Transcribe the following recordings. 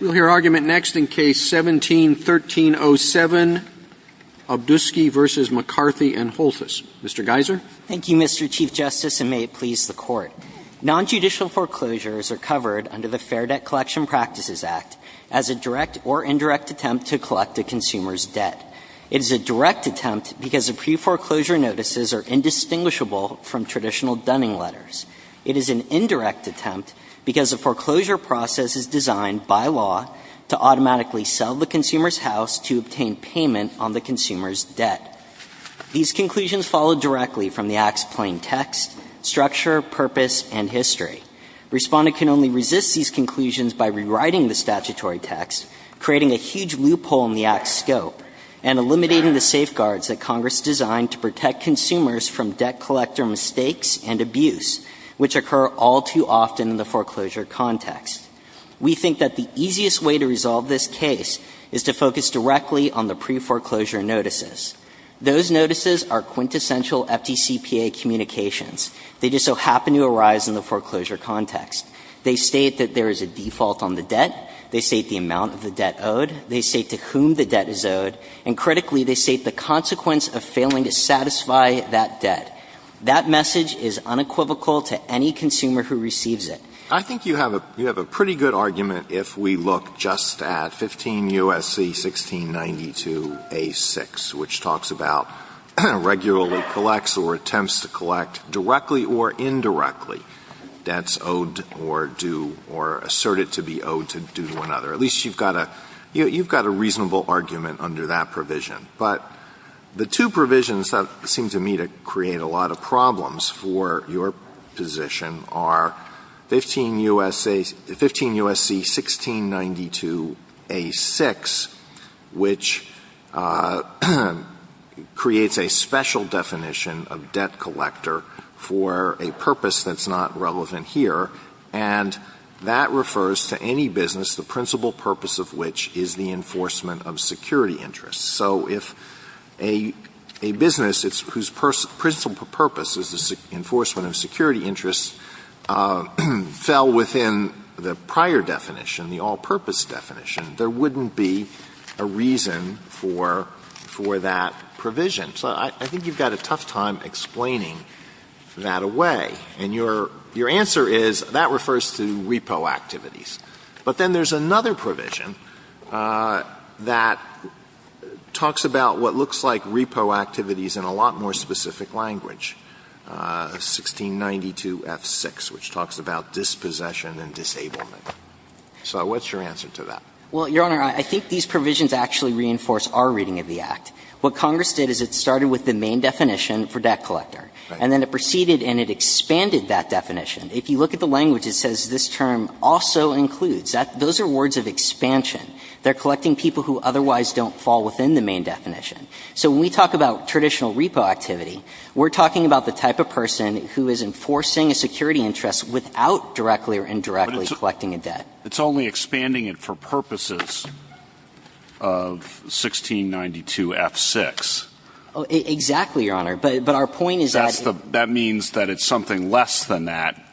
We'll hear argument next in Case 17-1307, Obduskey v. McCarthy & Holthus. Mr. Geiser? Thank you, Mr. Chief Justice, and may it please the Court. Nonjudicial foreclosures are covered under the Fair Debt Collection Practices Act as a direct or indirect attempt to collect a consumer's debt. It is a direct attempt because the pre-foreclosure notices are indistinguishable from traditional dunning letters. It is an indirect attempt because the foreclosure process is designed by law to automatically sell the consumer's house to obtain payment on the consumer's debt. These conclusions follow directly from the Act's plain text, structure, purpose, and history. Respondent can only resist these conclusions by rewriting the statutory text, creating a huge loophole in the Act's scope, and eliminating the safeguards that Congress designed to protect consumers from debt collector mistakes and abuse, which occur all too often in the foreclosure context. We think that the easiest way to resolve this case is to focus directly on the pre-foreclosure notices. Those notices are quintessential FDCPA communications. They just so happen to arise in the foreclosure context. They state that there is a default on the debt. They state the amount of the debt owed. They state to whom the debt is owed. And critically, they state the consequence of failing to satisfy that debt. That message is unequivocal to any consumer who receives it. Alito, I think you have a pretty good argument if we look just at 15 U.S.C. 1692a6, which talks about regularly collects or attempts to collect directly or indirectly debts owed or due or asserted to be owed due to another. At least you've got a reasonable argument under that provision. But the two provisions that seem to me to create a lot of problems for your position are 15 U.S.C. 1692a6, which creates a special definition of debt collector for a purpose that's not relevant here, and that refers to any business, the principal purpose of which is the enforcement of security interests. So if a business whose principal purpose is the enforcement of security interests fell within the prior definition, the all-purpose definition, there wouldn't be a reason for that provision. So I think you've got a tough time explaining that away. And your answer is that refers to repo activities. But then there's another provision that talks about what looks like repo activities in a lot more specific language, 1692f6, which talks about dispossession and disablement. So what's your answer to that? Well, Your Honor, I think these provisions actually reinforce our reading of the Act. What Congress did is it started with the main definition for debt collector, and then it proceeded and it expanded that definition. If you look at the language, it says this term also includes. Those are words of expansion. They're collecting people who otherwise don't fall within the main definition. So when we talk about traditional repo activity, we're talking about the type of person who is enforcing a security interest without directly or indirectly collecting a debt. But it's only expanding it for purposes of 1692f6. Exactly, Your Honor. But our point is that the That means that it's something less than that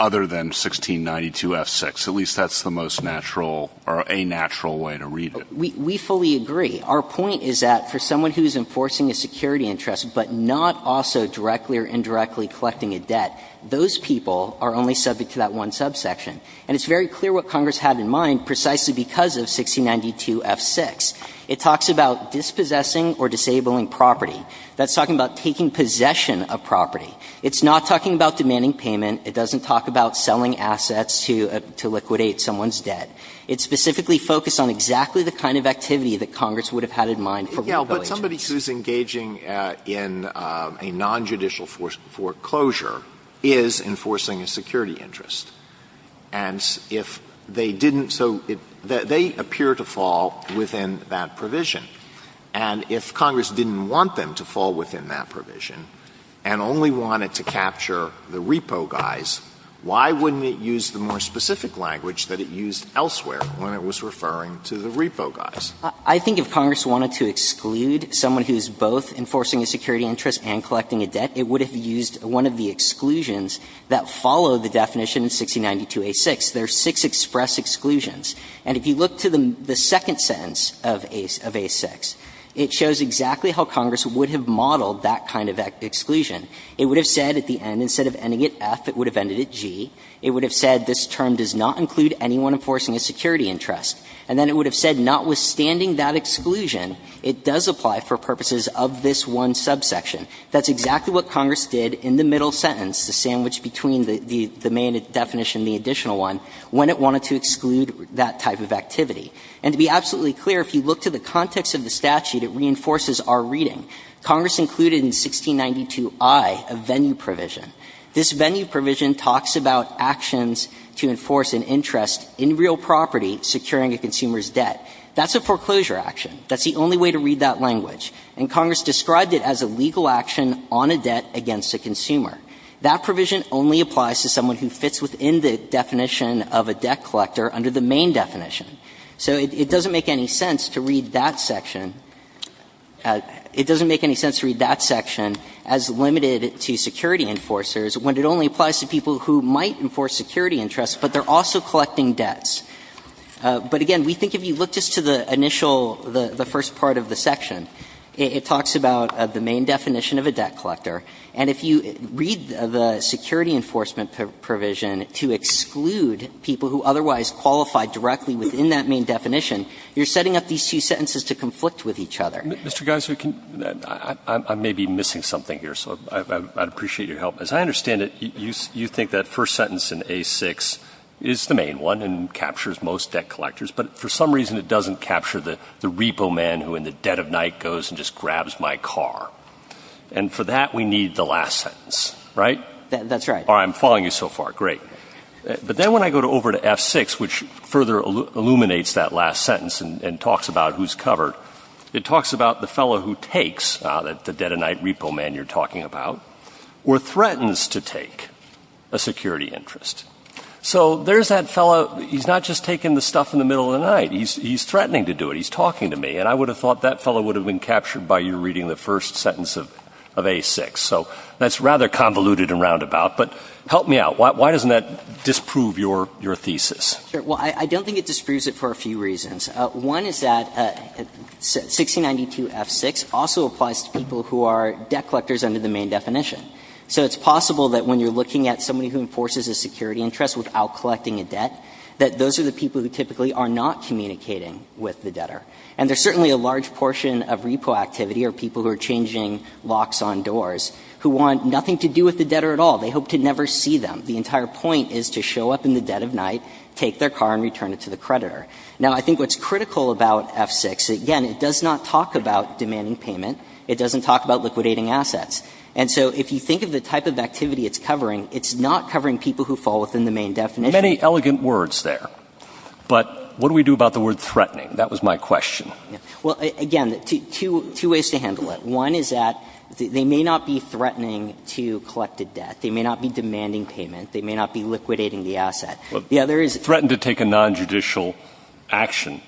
other than 1692f6. At least that's the most natural or a natural way to read it. We fully agree. Our point is that for someone who is enforcing a security interest but not also directly or indirectly collecting a debt, those people are only subject to that one subsection. And it's very clear what Congress had in mind precisely because of 1692f6. It talks about dispossessing or disabling property. That's talking about taking possession of property. It's not talking about demanding payment. It doesn't talk about selling assets to liquidate someone's debt. It's specifically focused on exactly the kind of activity that Congress would have had in mind for repo agents. Yeah, but somebody who's engaging in a nonjudicial foreclosure is enforcing a security interest. And if they didn't so they appear to fall within that provision. And if Congress didn't want them to fall within that provision and only wanted to capture the repo guys, why wouldn't it use the more specific language that it used elsewhere when it was referring to the repo guys? I think if Congress wanted to exclude someone who's both enforcing a security interest and collecting a debt, it would have used one of the exclusions that follow the definition in 1692a6. There are six express exclusions. And if you look to the second sentence of a6, it shows exactly how Congress would have modeled that kind of exclusion. It would have said at the end, instead of ending at F, it would have ended at G. It would have said this term does not include anyone enforcing a security interest. And then it would have said, notwithstanding that exclusion, it does apply for purposes of this one subsection. That's exactly what Congress did in the middle sentence, the sandwich between the main definition and the additional one, when it wanted to exclude that type of activity. And to be absolutely clear, if you look to the context of the statute, it reinforces our reading. Congress included in 1692i a venue provision. This venue provision talks about actions to enforce an interest in real property securing a consumer's debt. That's a foreclosure action. That's the only way to read that language. And Congress described it as a legal action on a debt against a consumer. That provision only applies to someone who fits within the definition of a debt collector under the main definition. So it doesn't make any sense to read that section. It doesn't make any sense to read that section as limited to security enforcers when it only applies to people who might enforce security interests, but they're also collecting debts. But again, we think if you look just to the initial, the first part of the section, it talks about the main definition of a debt collector. And if you read the security enforcement provision to exclude people who otherwise qualify directly within that main definition, you're setting up these two sentences to conflict with each other. Mr. Geiser, I may be missing something here, so I'd appreciate your help. As I understand it, you think that first sentence in A-6 is the main one and captures most debt collectors, but for some reason it doesn't capture the repo man who in the dead of night goes and just grabs my car. And for that, we need the last sentence, right? That's right. All right, I'm following you so far. Great. But then when I go over to F-6, which further illuminates that last sentence and talks about who's covered, it talks about the fellow who takes, the dead of night repo man you're talking about, or threatens to take a security interest. So there's that fellow. He's not just taking the stuff in the middle of the night. He's threatening to do it. He's talking to me. And I would have thought that fellow would have been captured by you reading the first sentence of A-6. So that's rather convoluted and roundabout. But help me out. Why doesn't that disprove your thesis? Well, I don't think it disproves it for a few reasons. One is that 1692 F-6 also applies to people who are debt collectors under the main definition. So it's possible that when you're looking at somebody who enforces a security interest without collecting a debt, that those are the people who typically are not communicating with the debtor. And there's certainly a large portion of repo activity are people who are changing locks on doors, who want nothing to do with the debtor at all. They hope to never see them. The entire point is to show up in the dead of night, take their car, and return it to the creditor. Now, I think what's critical about F-6, again, it does not talk about demanding payment. It doesn't talk about liquidating assets. And so if you think of the type of activity it's covering, it's not covering people who fall within the main definition. Many elegant words there. But what do we do about the word threatening? That was my question. Well, again, two ways to handle it. One is that they may not be threatening to collect a debt. They may not be demanding payment. They may not be liquidating the asset. The other is they threaten to take a nonjudicial action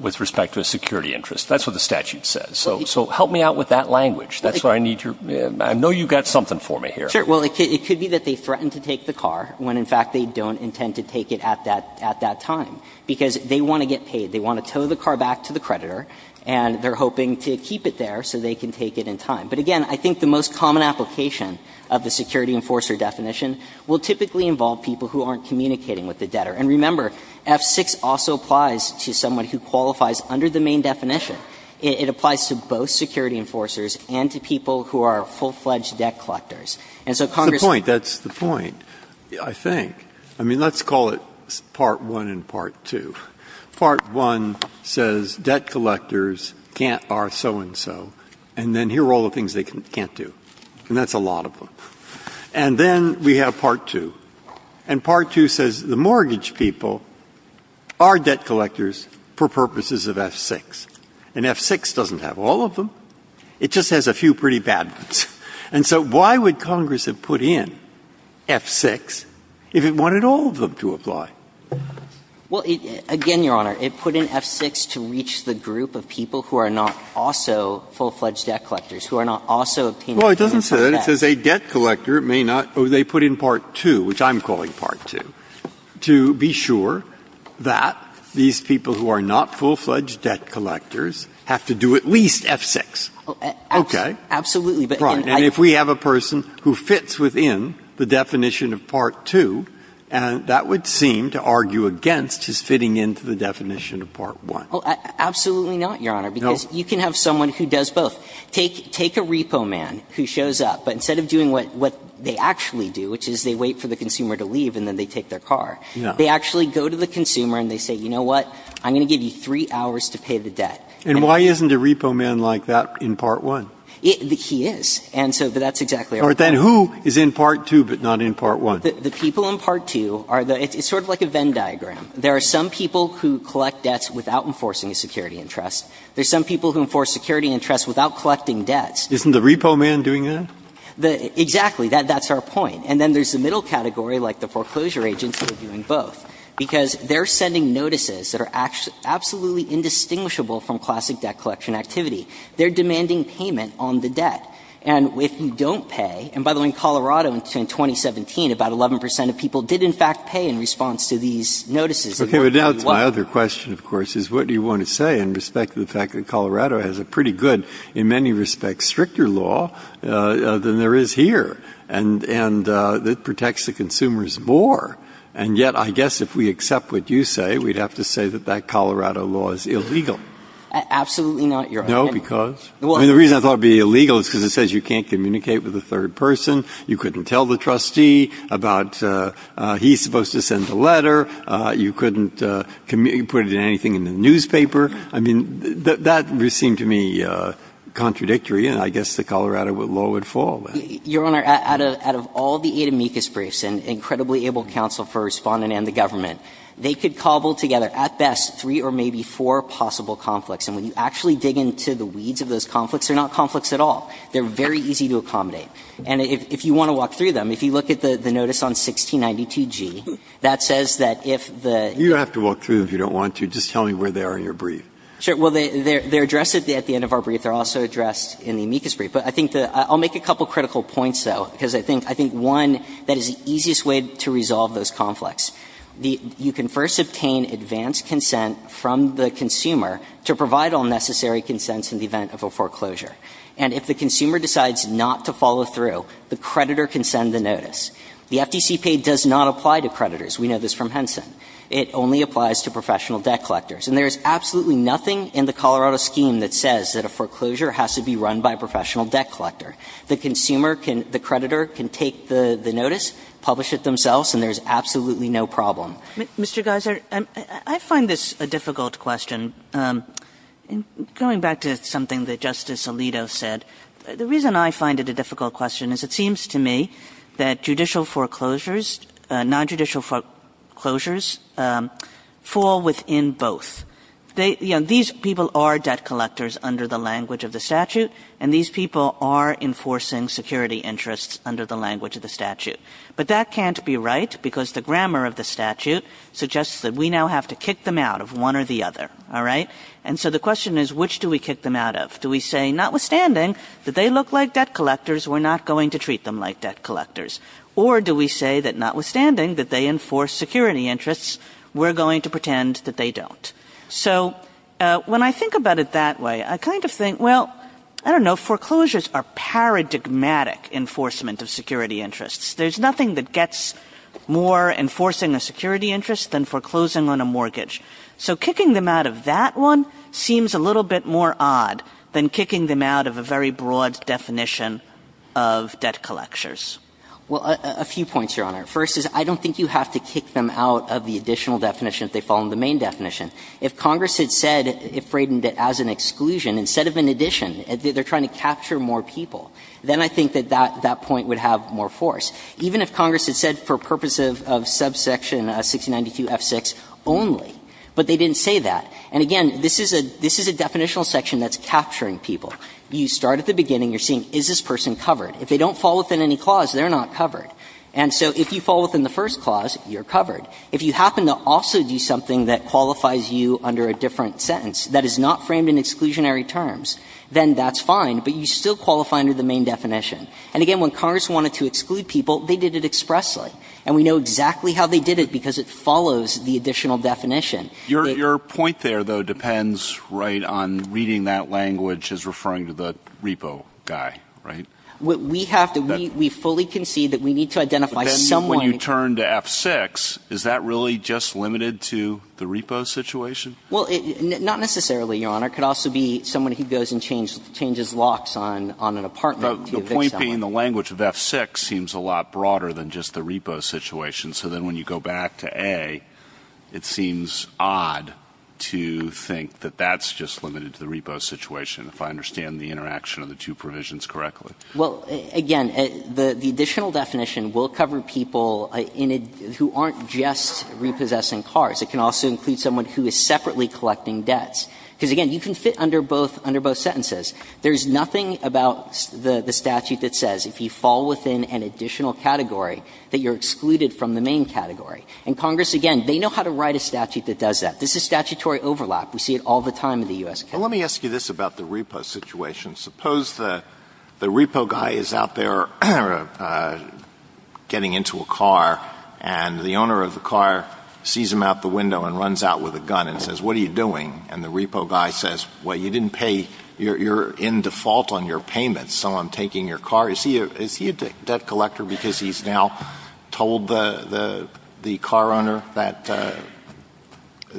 with respect to a security interest. That's what the statute says. So help me out with that language. That's why I need your – I know you've got something for me here. Sure. Well, it could be that they threaten to take the car when, in fact, they don't intend to take it at that time. Because they want to get paid. They want to tow the car back to the creditor, and they're hoping to keep it there so they can take it in time. But, again, I think the most common application of the security enforcer definition will typically involve people who aren't communicating with the debtor. And remember, F-6 also applies to someone who qualifies under the main definition. It applies to both security enforcers and to people who are full-fledged debt collectors. And so Congress – That's the point. That's the point, I think. I mean, let's call it Part 1 and Part 2. Part 1 says debt collectors can't – are so-and-so. And then here are all the things they can't do. And that's a lot of them. And then we have Part 2. And Part 2 says the mortgage people are debt collectors for purposes of F-6. And F-6 doesn't have all of them. It just has a few pretty bad ones. And so why would Congress have put in F-6 if it wanted all of them to apply? Well, again, Your Honor, it put in F-6 to reach the group of people who are not also full-fledged debt collectors, who are not also obtaining payments in part F. Well, it doesn't say that. It says a debt collector may not – they put in Part 2, which I'm calling Part 2, to be sure that these people who are not full-fledged debt collectors have to do at least F-6. Okay? Absolutely. But then I – Right. And if we have a person who fits within the definition of Part 2, that would seem to argue against his fitting into the definition of Part 1. Well, absolutely not, Your Honor, because you can have someone who does both. Take a repo man who shows up, but instead of doing what they actually do, which is they wait for the consumer to leave and then they take their car, they actually go to the consumer and they say, you know what, I'm going to give you three hours to pay the debt. And why isn't a repo man like that in Part 1? He is. And so that's exactly our point. All right. Then who is in Part 2 but not in Part 1? The people in Part 2 are the – it's sort of like a Venn diagram. There are some people who collect debts without enforcing a security interest. There are some people who enforce security interests without collecting debts. Isn't the repo man doing that? Exactly. That's our point. And then there's the middle category, like the foreclosure agents who are doing both, because they're sending notices that are absolutely indistinguishable from classic debt collection activity. They're demanding payment on the debt. And if you don't pay – and by the way, in Colorado in 2017, about 11 percent of people did in fact pay in response to these notices. Okay. But now it's my other question, of course, is what do you want to say in respect to the fact that Colorado has a pretty good, in many respects, stricter law than there is here and that protects the consumers more? And yet, I guess if we accept what you say, we'd have to say that that Colorado law is illegal. Absolutely not, Your Honor. No, because? I mean, the reason I thought it would be illegal is because it says you can't communicate with a third person. You couldn't tell the trustee about he's supposed to send a letter. You couldn't put it in anything in the newspaper. I mean, that would seem to me contradictory, and I guess the Colorado law would fall there. Your Honor, out of all the eight amicus briefs and incredibly able counsel for Respondent and the government, they could cobble together at best three or maybe four possible conflicts. And when you actually dig into the weeds of those conflicts, they're not conflicts at all. They're very easy to accommodate. And if you want to walk through them, if you look at the notice on 1692G, that says that if the — You don't have to walk through them if you don't want to. Just tell me where they are in your brief. Sure. Well, they're addressed at the end of our brief. They're also addressed in the amicus brief. But I think the — I'll make a couple of critical points, though, because I think one, that is the easiest way to resolve those conflicts. You can first obtain advanced consent from the consumer to provide all necessary consents in the event of a foreclosure. And if the consumer decides not to follow through, the creditor can send the notice. The FTC pay does not apply to creditors. We know this from Henson. It only applies to professional debt collectors. And there is absolutely nothing in the Colorado scheme that says that a foreclosure has to be run by a professional debt collector. The consumer can — the creditor can take the notice, publish it themselves, and there's absolutely no problem. Mr. Geiser, I find this a difficult question. Going back to something that Justice Alito said, the reason I find it a difficult question is it seems to me that judicial foreclosures — nonjudicial foreclosures fall within both. They — you know, these people are debt collectors under the language of the statute, and these people are enforcing security interests under the language of the statute. But that can't be right, because the grammar of the statute suggests that we now have to kick them out of one or the other, all right? And so the question is, which do we kick them out of? Do we say, notwithstanding that they look like debt collectors, we're not going to treat them like debt collectors? Or do we say that, notwithstanding that they enforce security interests, we're going to pretend that they don't? So when I think about it that way, I kind of think, well, I don't know, foreclosures are paradigmatic enforcement of security interests. There's nothing that gets more enforcing a security interest than foreclosing on a mortgage. So kicking them out of that one seems a little bit more odd than kicking them out of a very broad definition of debt collectors. Well, a few points, Your Honor. First is, I don't think you have to kick them out of the additional definition if they fall under the main definition. If Congress had said, if Braden did, as an exclusion, instead of an addition, they're trying to capture more people, then I think that that point would have more force, even if Congress had said, for purpose of subsection 6092F6 only, but they didn't say that. And again, this is a – this is a definitional section that's capturing people. You start at the beginning, you're seeing, is this person covered? If they don't fall within any clause, they're not covered. And so if you fall within the first clause, you're covered. If you happen to also do something that qualifies you under a different sentence that is not framed in exclusionary terms, then that's fine, but you still qualify under the main definition. And again, when Congress wanted to exclude people, they did it expressly. And we know exactly how they did it, because it follows the additional definition. Alito, your point there, though, depends, right, on reading that language as referring to the repo guy, right? We have to – we fully concede that we need to identify someone. But then when you turn to F6, is that really just limited to the repo situation? Well, not necessarily, Your Honor. It could also be someone who goes and changes locks on an apartment to evict someone. The point being the language of F6 seems a lot broader than just the repo situation. So then when you go back to A, it seems odd to think that that's just limited to the repo situation, if I understand the interaction of the two provisions correctly. Well, again, the additional definition will cover people who aren't just repossessing cars. It can also include someone who is separately collecting debts. Because, again, you can fit under both sentences. There's nothing about the statute that says if you fall within an additional category that you're excluded from the main category. And Congress, again, they know how to write a statute that does that. This is statutory overlap. We see it all the time in the U.S. Congress. But let me ask you this about the repo situation. Suppose the repo guy is out there getting into a car, and the owner of the car sees him out the window and runs out with a gun and says, what are you doing? And the repo guy says, well, you didn't pay, you're in default on your payments, so I'm taking your car. Is he a debt collector because he's now told the car owner that,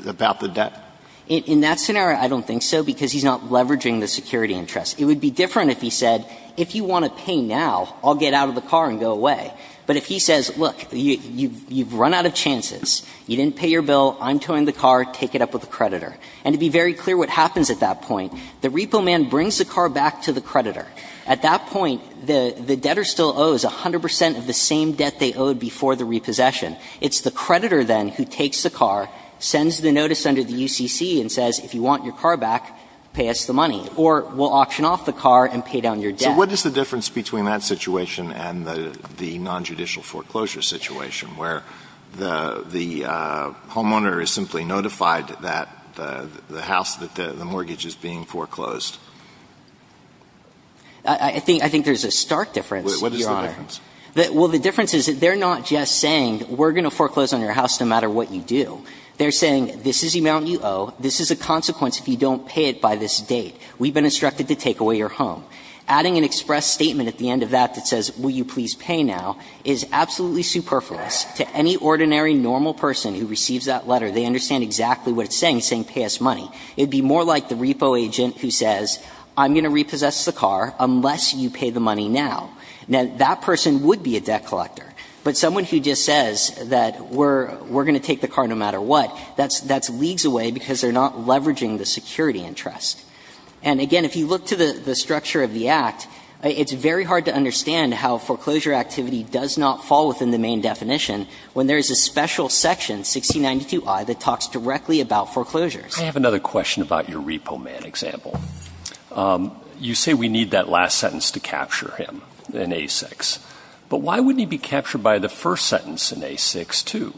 about the debt? In that scenario, I don't think so, because he's not leveraging the security interest. It would be different if he said, if you want to pay now, I'll get out of the car and go away. But if he says, look, you've run out of chances, you didn't pay your bill, I'm towing the car, take it up with the creditor. And to be very clear what happens at that point, the repo man brings the car back to the creditor. At that point, the debtor still owes 100 percent of the same debt they owed before the repossession. It's the creditor, then, who takes the car, sends the notice under the UCC and says, if you want your car back, pay us the money, or we'll auction off the car and pay down your debt. Alitoson So what is the difference between that situation and the nonjudicial foreclosure situation, where the homeowner is simply notified that the house, that the mortgage is being foreclosed? I think there's a stark difference, Your Honor. Alitoson What is the difference? Well, the difference is that they're not just saying, we're going to foreclose on your house no matter what you do. They're saying, this is the amount you owe, this is the consequence if you don't pay it by this date. We've been instructed to take away your home. Adding an express statement at the end of that that says, will you please pay now, is absolutely superfluous to any ordinary, normal person who receives that letter. They understand exactly what it's saying, saying pay us money. It would be more like the repo agent who says, I'm going to repossess the car unless you pay the money now. Now, that person would be a debt collector, but someone who just says that we're going to take the car no matter what, that's leagues away because they're not leveraging the security interest. And, again, if you look to the structure of the Act, it's very hard to understand how foreclosure activity does not fall within the main definition when there is a special section, 1692I, that talks directly about foreclosures. I have another question about your repo man example. You say we need that last sentence to capture him in A6, but why wouldn't he be captured by the first sentence in A6 too?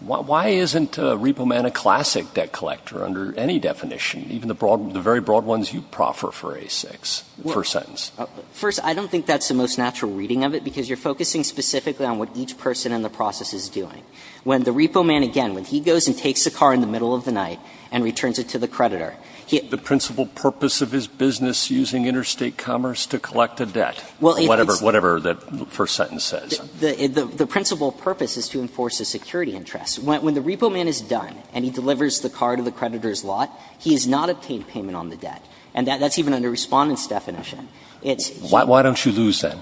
Why isn't repo man a classic debt collector under any definition, even the very broad ones you proffer for A6, the first sentence? First, I don't think that's the most natural reading of it, because you're focusing specifically on what each person in the process is doing. When the repo man, again, when he goes and takes the car in the middle of the night and returns it to the creditor, he has to do what? The principal purpose of his business, using interstate commerce to collect a debt, whatever the first sentence says. The principal purpose is to enforce the security interest. When the repo man is done and he delivers the car to the creditor's lot, he has not obtained payment on the debt. And that's even under Respondent's definition. It's you. Why don't you lose, then?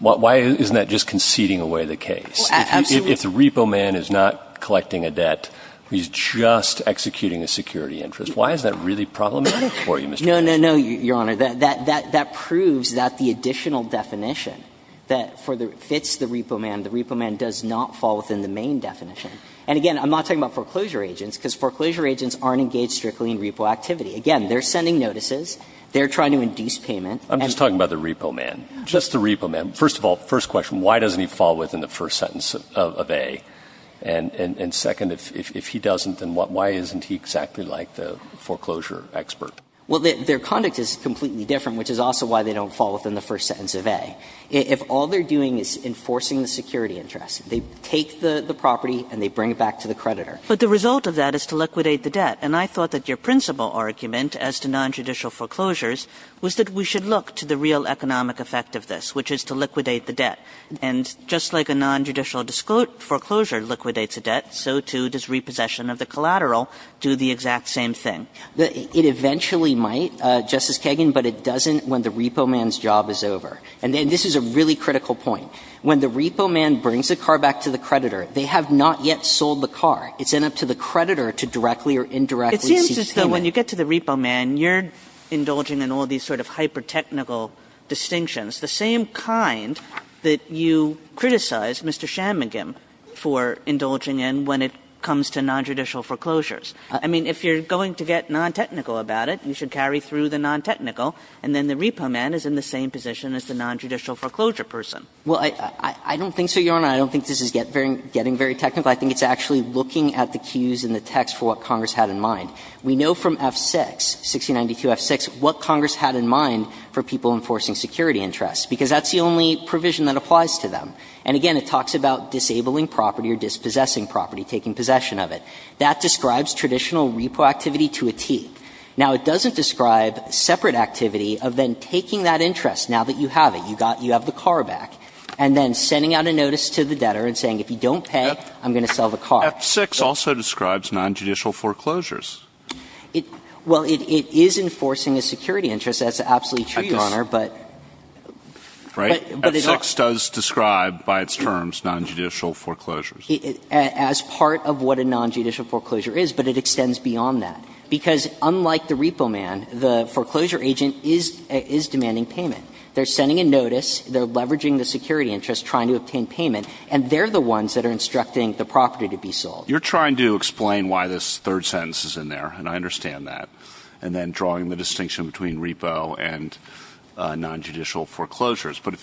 Why isn't that just conceding away the case? Absolutely. If the repo man is not collecting a debt, he's just executing a security interest. Why is that really problematic for you, Mr. Kagan? No, no, no, Your Honor. That proves that the additional definition that fits the repo man, the repo man does not fall within the main definition. And again, I'm not talking about foreclosure agents, because foreclosure agents aren't engaged strictly in repo activity. Again, they're sending notices. They're trying to induce payment. I'm just talking about the repo man, just the repo man. First of all, first question, why doesn't he fall within the first sentence of A? And second, if he doesn't, then why isn't he exactly like the foreclosure expert? Well, their conduct is completely different, which is also why they don't fall within the first sentence of A. If all they're doing is enforcing the security interest, they take the property and they bring it back to the creditor. But the result of that is to liquidate the debt. And I thought that your principal argument as to nonjudicial foreclosures was that we should look to the real economic effect of this, which is to liquidate the debt. And just like a nonjudicial foreclosure liquidates a debt, so too does repossession of the collateral do the exact same thing. It eventually might, Justice Kagan, but it doesn't when the repo man's job is over. And this is a really critical point. When the repo man brings a car back to the creditor, they have not yet sold the car. It's then up to the creditor to directly or indirectly seek payment. Kagan. It seems as though when you get to the repo man, you're indulging in all these sort of hyper-technical distinctions, the same kind that you criticized Mr. Shanmugam for indulging in when it comes to nonjudicial foreclosures. I mean, if you're going to get non-technical about it, you should carry through the non-technical, and then the repo man is in the same position as the nonjudicial foreclosure person. Well, I don't think so, Your Honor. I don't think this is getting very technical. I think it's actually looking at the cues in the text for what Congress had in mind. We know from F-6, 1692 F-6, what Congress had in mind for people enforcing security interests, because that's the only provision that applies to them. And again, it talks about disabling property or dispossessing property, taking possession of it. That describes traditional repo activity to a T. Now, it doesn't describe separate activity of then taking that interest, now that you have it, you have the car back, and then sending out a notice to the debtor and saying, if you don't pay, I'm going to sell the car. F-6 also describes nonjudicial foreclosures. Well, it is enforcing a security interest. That's absolutely true, Your Honor, but it's not. F-6 does describe by its terms nonjudicial foreclosures. As part of what a nonjudicial foreclosure is, but it extends beyond that. Because unlike the repo man, the foreclosure agent is demanding payment. They're sending a notice. They're leveraging the security interest, trying to obtain payment. And they're the ones that are instructing the property to be sold. You're trying to explain why this third sentence is in there, and I understand that, and then drawing the distinction between repo and nonjudicial foreclosures. But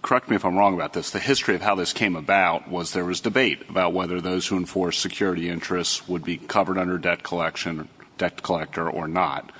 correct me if I'm wrong about this. The history of how this came about was there was debate about whether those who enforced security interests would be covered under debt collection, debt collector, or not.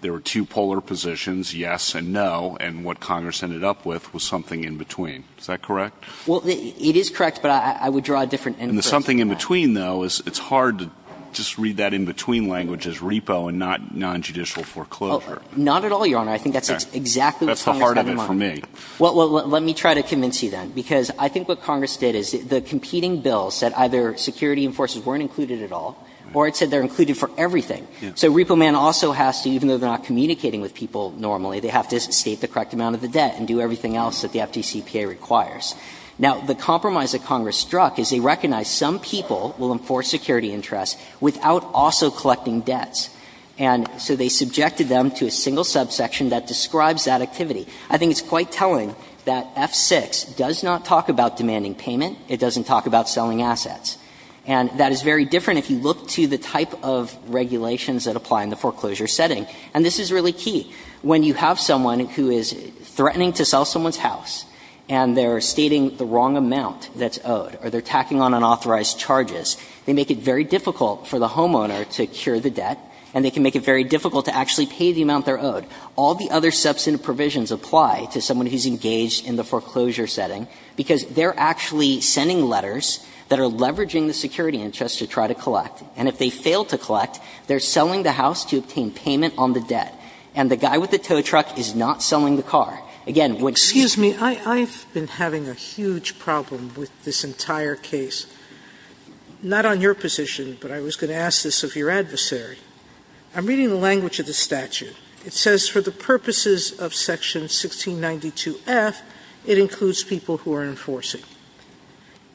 There were two polar positions, yes and no, and what Congress ended up with was something in between. Is that correct? Well, it is correct, but I would draw a different end to it. And the something in between, though, is it's hard to just read that in between language as repo and not nonjudicial foreclosure. Well, not at all, Your Honor. I think that's exactly what Congress got in mind. That's the heart of it for me. Well, let me try to convince you then. Because I think what Congress did is the competing bill said either security enforcers weren't included at all, or it said they're included for everything. So repo man also has to, even though they're not communicating with people normally, they have to state the correct amount of the debt and do everything else that the FDCPA requires. Now, the compromise that Congress struck is they recognized some people will enforce security interests without also collecting debts. And so they subjected them to a single subsection that describes that activity. I think it's quite telling that F-6 does not talk about demanding payment. It doesn't talk about selling assets. And that is very different if you look to the type of regulations that apply in the foreclosure setting. And this is really key. When you have someone who is threatening to sell someone's house and they're stating the wrong amount that's owed or they're tacking on unauthorized charges, they make it very difficult for the homeowner to cure the debt and they can make it very difficult to actually pay the amount they're owed. All the other substantive provisions apply to someone who's engaged in the foreclosure setting because they're actually sending letters that are leveraging the security interests to try to collect. And if they fail to collect, they're selling the house to obtain payment on the debt. And the guy with the tow truck is not selling the car. Again, what's the problem? Sotomayor, I've been having a huge problem with this entire case. Not on your position, but I was going to ask this of your adversary. I'm reading the language of the statute. It says for the purposes of Section 1692F, it includes people who are enforcing.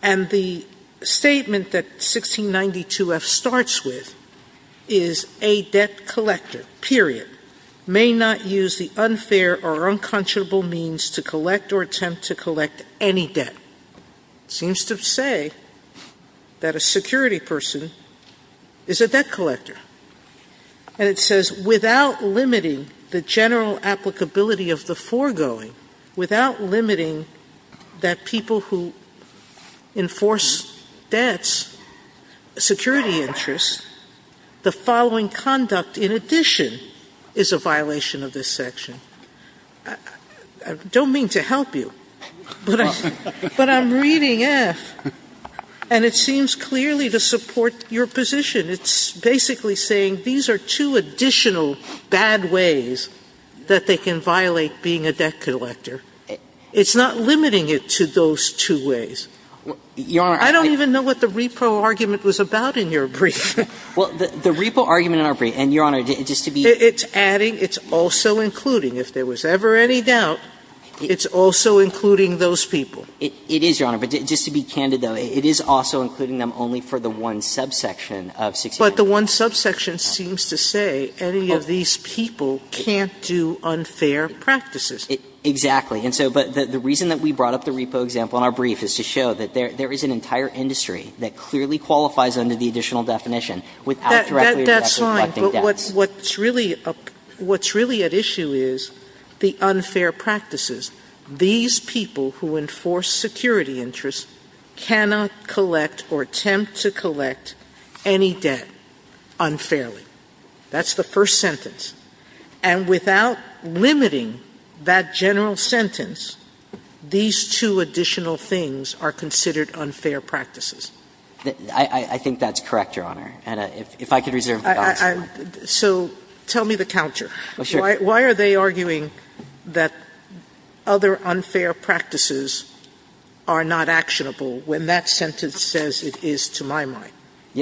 And the statement that 1692F starts with is a debt collector, period, may not use the unfair or unconscionable means to collect or attempt to collect any debt. It seems to say that a security person is a debt collector. And it says, without limiting the general applicability of the foregoing, without limiting that people who enforce debts, security interests, the following conduct in addition is a violation of this section. I don't mean to help you, but I'm reading F, and it seems clearly to support your position. It's basically saying these are two additional bad ways that they can violate being a debt collector. It's not limiting it to those two ways. I don't even know what the repro argument was about in your brief. Well, the repro argument in our brief, and, Your Honor, just to be clear. It's adding, it's also including, if there was ever any doubt, it's also including those people. It is, Your Honor. But just to be candid, though, it is also including them only for the one subsection of 1692F. But the one subsection seems to say any of these people can't do unfair practices. Exactly. And so the reason that we brought up the repo example in our brief is to show that there is an entire industry that clearly qualifies under the additional definition without directly or directly collecting debts. But what's really at issue is the unfair practices. These people who enforce security interests cannot collect or attempt to collect any debt unfairly. That's the first sentence. And without limiting that general sentence, these two additional things are considered unfair practices. I think that's correct, Your Honor. And if I could reserve the balance. So tell me the counter. Why are they arguing that other unfair practices are not actionable when that sentence says it is to my mind?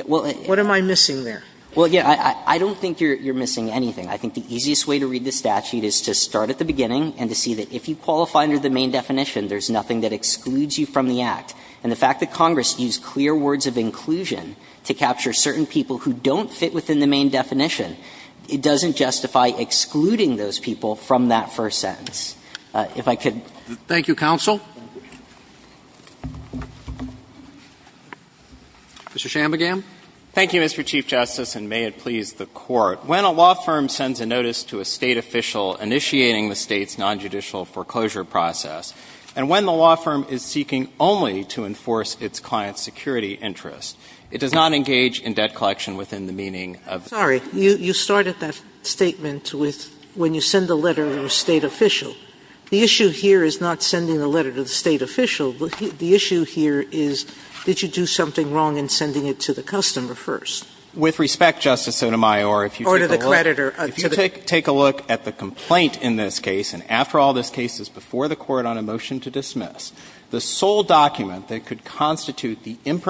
What am I missing there? Well, yeah, I don't think you're missing anything. I think the easiest way to read the statute is to start at the beginning and to see that if you qualify under the main definition, there's nothing that excludes you from the Act. And the fact that Congress used clear words of inclusion to capture certain people who don't fit within the main definition, it doesn't justify excluding those people from that first sentence. If I could. Thank you, counsel. Mr. Shanbugam. Thank you, Mr. Chief Justice, and may it please the Court. When a law firm sends a notice to a State official initiating the State's nonjudicial foreclosure process, and when the law firm is seeking only to enforce its client's security interests, it does not engage in debt collection within the meaning of the State's nonjudicial foreclosure process. Sotomayor, if you take a look at the complaint in this case, and after all, this case is before the Court on a motion to dismiss, the sole document that could constitute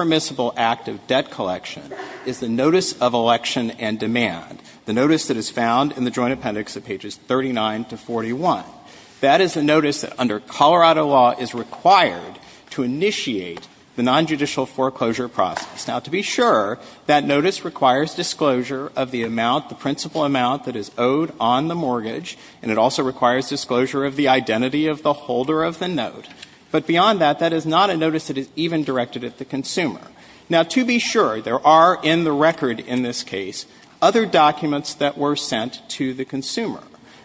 to the State official. Now, to be sure, that notice requires disclosure of the amount, the principal amount that is owed on the mortgage, and it also requires disclosure of the identity of the holder of the note. But beyond that, that is not a notice that is even directed at the consumer. Now, to be sure, there are in the record in this case other documents that were sent to the consumer.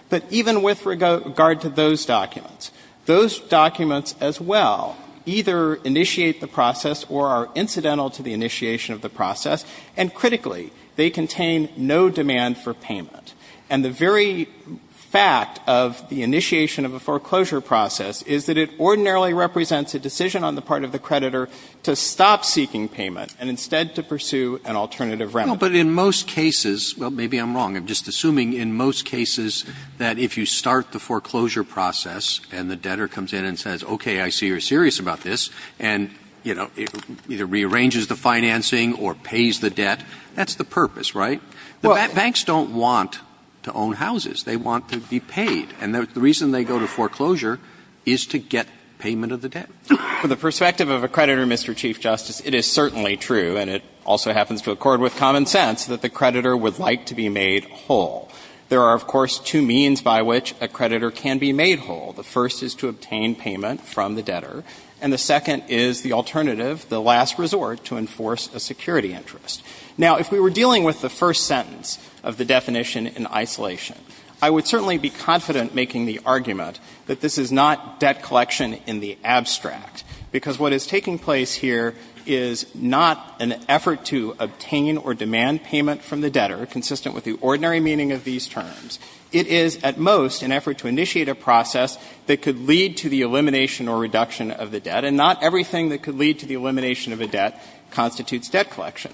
But even with regard to those documents, those documents as well either initiate the process or are incidental to the initiation of the process, and critically, they contain no demand for payment. And the very fact of the initiation of a foreclosure process is that it ordinarily represents a decision on the part of the creditor to stop seeking payment and instead to pursue an alternative remedy. Roberts. But in most cases, well, maybe I'm wrong, I'm just assuming in most cases that if you start the foreclosure process and the debtor comes in and says, okay, I see you're serious about this, and, you know, either rearranges the financing or pays the debt, that's the purpose, right? Banks don't want to own houses. They want to be paid. And the reason they go to foreclosure is to get payment of the debt. For the perspective of a creditor, Mr. Chief Justice, it is certainly true, and it also happens to accord with common sense, that the creditor would like to be made whole. There are, of course, two means by which a creditor can be made whole. The first is to obtain payment from the debtor, and the second is the alternative, the last resort, to enforce a security interest. Now, if we were dealing with the first sentence of the definition in isolation, I would certainly be confident making the argument that this is not debt collection in the abstract, because what is taking place here is not an effort to obtain or demand payment from the debtor, consistent with the ordinary meaning of these terms. It is, at most, an effort to initiate a process that could lead to the elimination or reduction of the debt, and not everything that could lead to the elimination of a debt constitutes debt collection.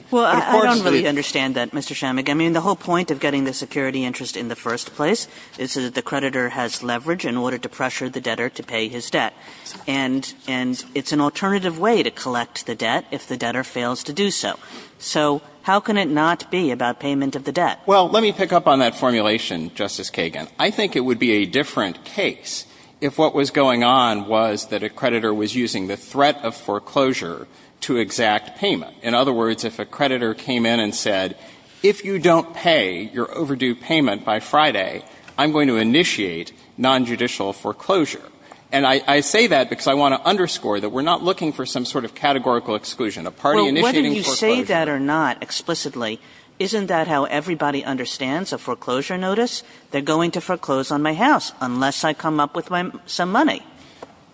Kagan. I think it would be a different case if what was going on was that a creditor was using the threat of foreclosure to exact payment. In other words, if a creditor came in and said, if you don't pay your overdue on Friday, I'm going to initiate nonjudicial foreclosure. And I say that because I want to underscore that we're not looking for some sort of categorical exclusion, a party initiating foreclosure. Kagan. Well, whether you say that or not explicitly, isn't that how everybody understands a foreclosure notice? They're going to foreclose on my house, unless I come up with some money.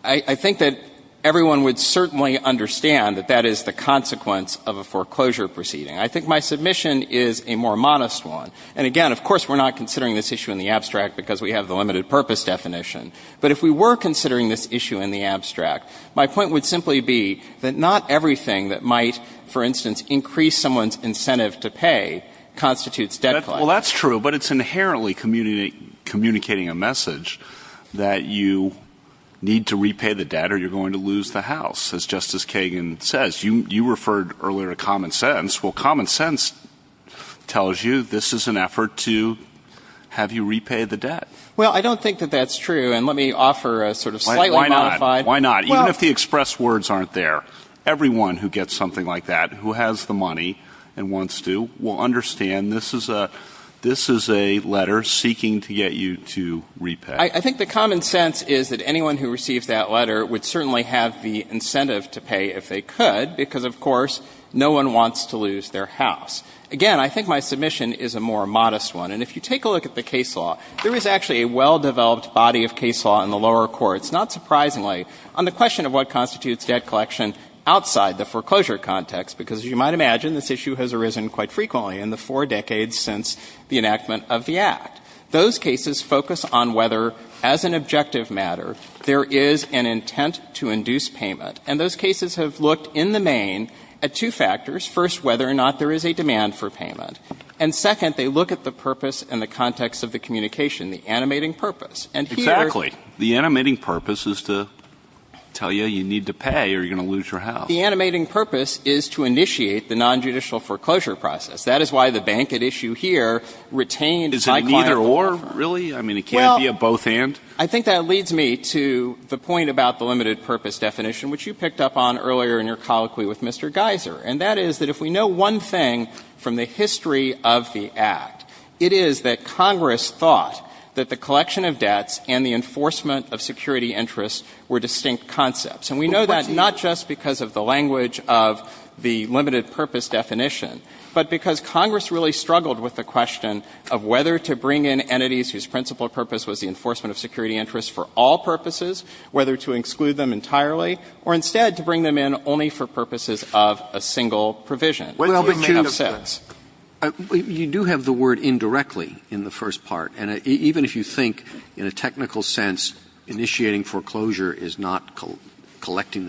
I think that everyone would certainly understand that that is the consequence of a foreclosure proceeding. I think my submission is a more modest one. And again, of course, we're not considering this issue in the abstract because we have the limited purpose definition. But if we were considering this issue in the abstract, my point would simply be that not everything that might, for instance, increase someone's incentive to pay constitutes debt collection. Well, that's true. But it's inherently communicating a message that you need to repay the debt or you're going to lose the house, as Justice Kagan says. You referred earlier to common sense. Well, common sense tells you this is an effort to have you repay the debt. Well, I don't think that that's true. And let me offer a sort of slightly modified... Why not? Even if the expressed words aren't there, everyone who gets something like that, who has the money and wants to, will understand this is a letter seeking to get you to repay. I think the common sense is that anyone who receives that letter would certainly have the incentive to pay if they could because, of course, no one wants to lose their house. Again, I think my submission is a more modest one. And if you take a look at the case law, there is actually a well-developed body of case law in the lower courts, not surprisingly, on the question of what constitutes debt collection outside the foreclosure context because, as you might imagine, this issue has arisen quite frequently in the four decades since the enactment of the Act. Those cases focus on whether, as an objective matter, there is an intent to induce payment. And those cases have looked, in the main, at two factors. First, whether or not there is a demand for payment. And second, they look at the purpose and the context of the communication, the animating purpose. And here... Exactly. The animating purpose is to tell you you need to pay or you're going to lose your house. The animating purpose is to initiate the nonjudicial foreclosure process. That is why the bank at issue here retained my client... Mr. Orr, really? I mean, it can't be a both-hand? Well, I think that leads me to the point about the limited purpose definition, which you picked up on earlier in your colloquy with Mr. Geiser. And that is that if we know one thing from the history of the Act, it is that Congress thought that the collection of debts and the enforcement of security interests were distinct concepts. And we know that not just because of the language of the limited purpose definition, but because Congress really struggled with the question of whether to bring in entities whose principal purpose was the enforcement of security interests for all purposes, whether to exclude them entirely, or instead to bring them in only for purposes of a single provision. Well, but, Juniper, you do have the word indirectly in the first part. And even if you think, in a technical sense, initiating foreclosure is not collecting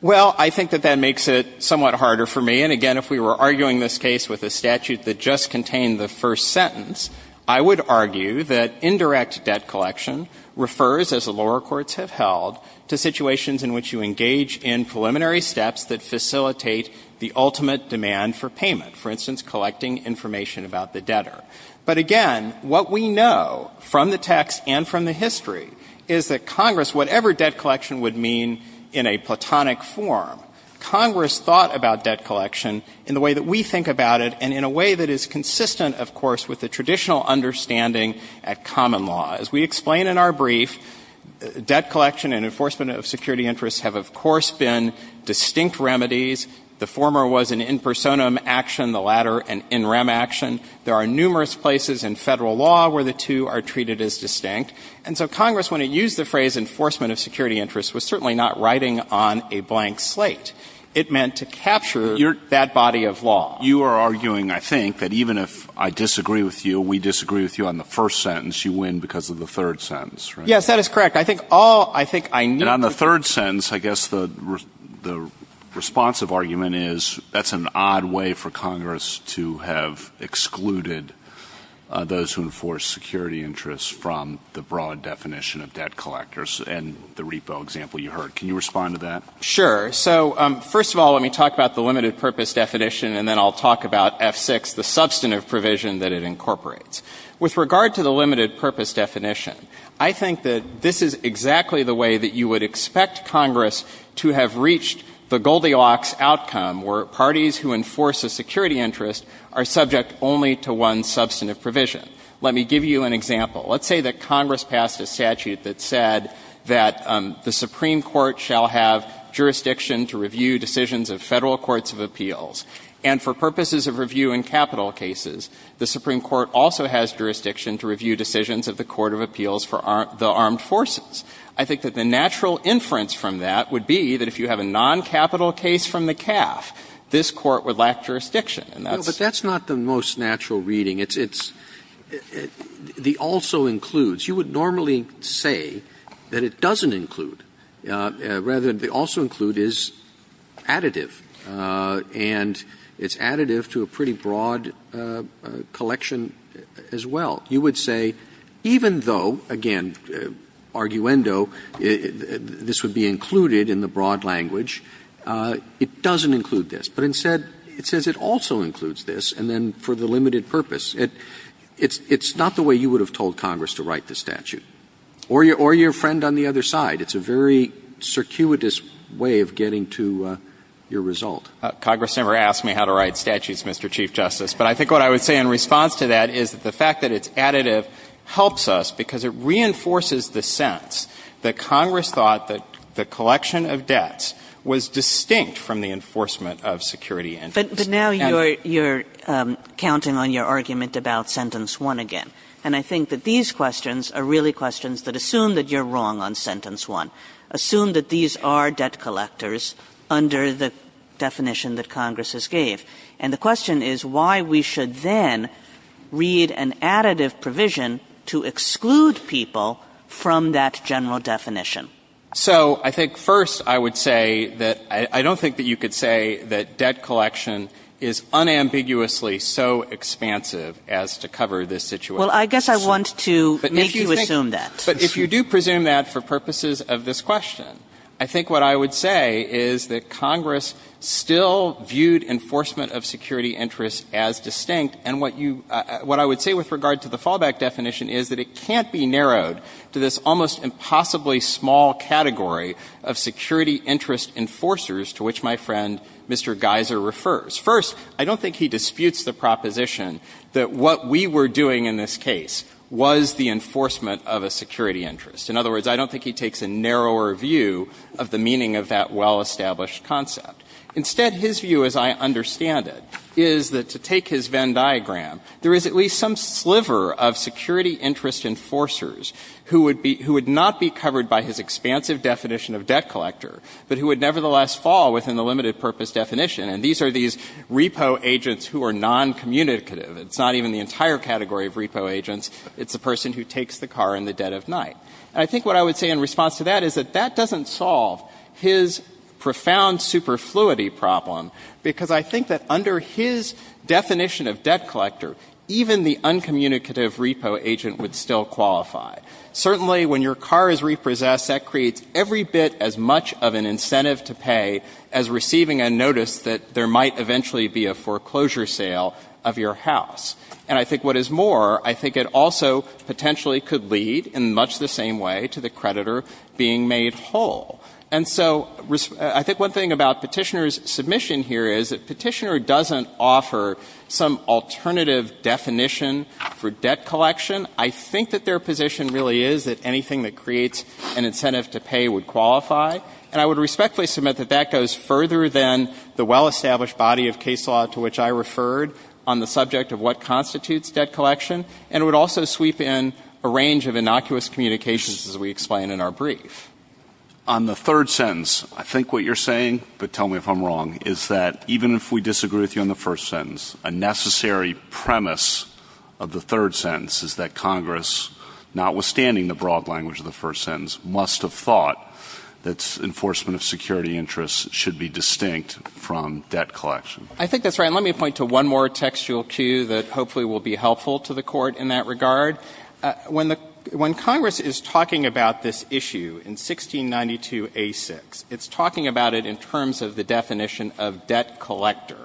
Well, I think that that makes it somewhat harder for me. And again, if we were arguing this case with a statute that just contained the first sentence, I would argue that indirect debt collection refers, as the lower courts have held, to situations in which you engage in preliminary steps that facilitate the ultimate demand for payment, for instance, collecting information about the debtor. But again, what we know from the text and from the history is that Congress, whatever debt collection would mean in a platonic form, Congress thought about debt collection in the way that we think about it and in a way that is consistent, of course, with the traditional understanding at common law. As we explain in our brief, debt collection and enforcement of security interests have, of course, been distinct remedies. The former was an in personam action, the latter an in rem action. There are numerous places in federal law where the two are treated as distinct. And so Congress, when it used the phrase enforcement of security interests, was certainly not writing on a blank slate. It meant to capture that body of law. You are arguing, I think, that even if I disagree with you, we disagree with you on the first sentence, you win because of the third sentence, right? Yes, that is correct. I think all — I think I knew — And on the third sentence, I guess the responsive argument is that's an odd way for Congress to have excluded those who enforce security interests from the broad definition of debt collectors and the repo example you heard. Can you respond to that? Sure. So, first of all, let me talk about the limited purpose definition and then I'll talk about F6, the substantive provision that it incorporates. With regard to the limited purpose definition, I think that this is exactly the way that you would expect Congress to have reached the Goldilocks outcome where parties who enforce a security interest are subject only to one substantive provision. Let me give you an example. Let's say that Congress passed a statute that said that the Supreme Court shall have jurisdiction to review decisions of federal courts of appeals. And for purposes of review in capital cases, the Supreme Court also has jurisdiction to review decisions of the Court of Appeals for the Armed Forces. I think that the natural inference from that would be that if you have a non-capital case from the CAF, this Court would lack jurisdiction. And that's the most natural reading. It's the also includes. You would normally say that it doesn't include, rather the also include is additive. And it's additive to a pretty broad collection as well. You would say even though, again, arguendo, this would be included in the broad language, it doesn't include this. But instead, it says it also includes this, and then for the limited purpose. It's not the way you would have told Congress to write the statute. Or your friend on the other side. It's a very circuitous way of getting to your result. Congress never asked me how to write statutes, Mr. Chief Justice. But I think what I would say in response to that is that the fact that it's additive helps us because it reinforces the sense that Congress thought that the collection of debts was distinct from the enforcement of security interest. But now you're counting on your argument about sentence one again. And I think that these questions are really questions that assume that you're wrong on sentence one. Assume that these are debt collectors under the definition that Congress has gave. And the question is why we should then read an additive provision to exclude people from that general definition. So I think first I would say that I don't think that you could say that debt collection is unambiguously so expansive as to cover this situation. Well, I guess I want to make you assume that. But if you do presume that for purposes of this question, I think what I would say is that Congress still viewed enforcement of security interest as distinct. And what I would say with regard to the fallback definition is that it can't be narrowed to this almost impossibly small category of security interest enforcers to which my friend Mr. Geiser refers. First, I don't think he disputes the proposition that what we were doing in this case was the enforcement of a security interest. In other words, I don't think he takes a narrower view of the meaning of that well-established concept. Instead, his view, as I understand it, is that to take his Venn diagram, there is at least some sliver of security interest enforcers who would not be covered by his expansive definition of debt collector, but who would nevertheless fall within the limited purpose definition. And these are these repo agents who are noncommunicative. It's not even the entire category of repo agents. It's the person who takes the car in the dead of night. I think what I would say in response to that is that that doesn't solve his profound superfluity problem, because I think that under his definition of debt collector, even the uncommunicative repo agent would still qualify. Certainly, when your car is repossessed, that creates every bit as much of an incentive to pay as receiving a notice that there might eventually be a foreclosure sale of your house. And I think what is more, I think it also potentially could lead in much the same way to the creditor being made whole. And so I think one thing about Petitioner's submission here is that Petitioner doesn't offer some alternative definition for debt collection. I think that their position really is that anything that creates an incentive to pay would qualify. And I would respectfully submit that that goes further than the well-established body of case law to which I referred on the subject of what constitutes debt collection. And it would also sweep in a range of innocuous communications, as we explain in our brief. On the third sentence, I think what you're saying, but tell me if I'm wrong, is that even if we disagree with you on the first sentence, a necessary premise of the third sentence is that Congress, notwithstanding the broad language of the first sentence, must have thought that enforcement of security interests should be distinct from debt collection. I think that's right. And let me point to one more textual cue that hopefully will be helpful to the Court in that regard. When the — when Congress is talking about this issue in 1692a6, it's talking about it in terms of the definition of debt collector.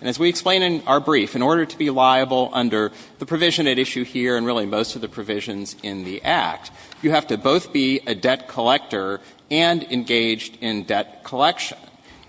And as we explain in our brief, in order to be liable under the provision at issue here, and really most of the provisions in the Act, you have to both be a debt collector and engaged in debt collection.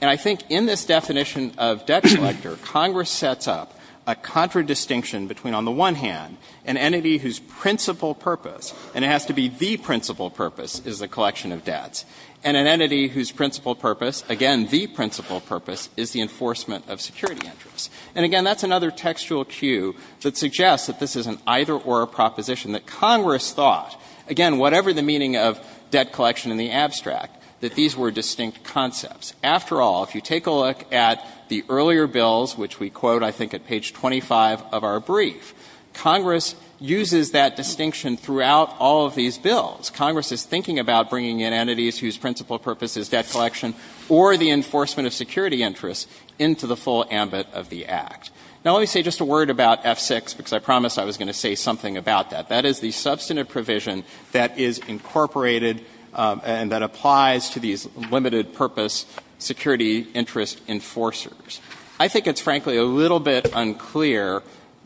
And I think in this definition of debt collector, Congress sets up a contradistinction between, on the one hand, an entity whose principal purpose, and it has to be the principal purpose, is the collection of debts, and an entity whose principal purpose, again, the principal purpose, is the enforcement of security interests. And, again, that's another textual cue that suggests that this is an either-or proposition that Congress thought, again, whatever the meaning of debt collection in the abstract, that these were distinct concepts. After all, if you take a look at the earlier bills, which we quote, I think, at page 25 of our brief, Congress uses that distinction throughout all of these bills. Congress is thinking about bringing in entities whose principal purpose is debt collection or the enforcement of security interests into the full ambit of the Act. Now, let me say just a word about F-6, because I promised I was going to say something about that. That is the substantive provision that is incorporated and that applies to these limited purpose security interest enforcers. I think it's, frankly, a little bit unclear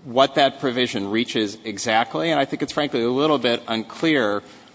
what that provision reaches exactly, and I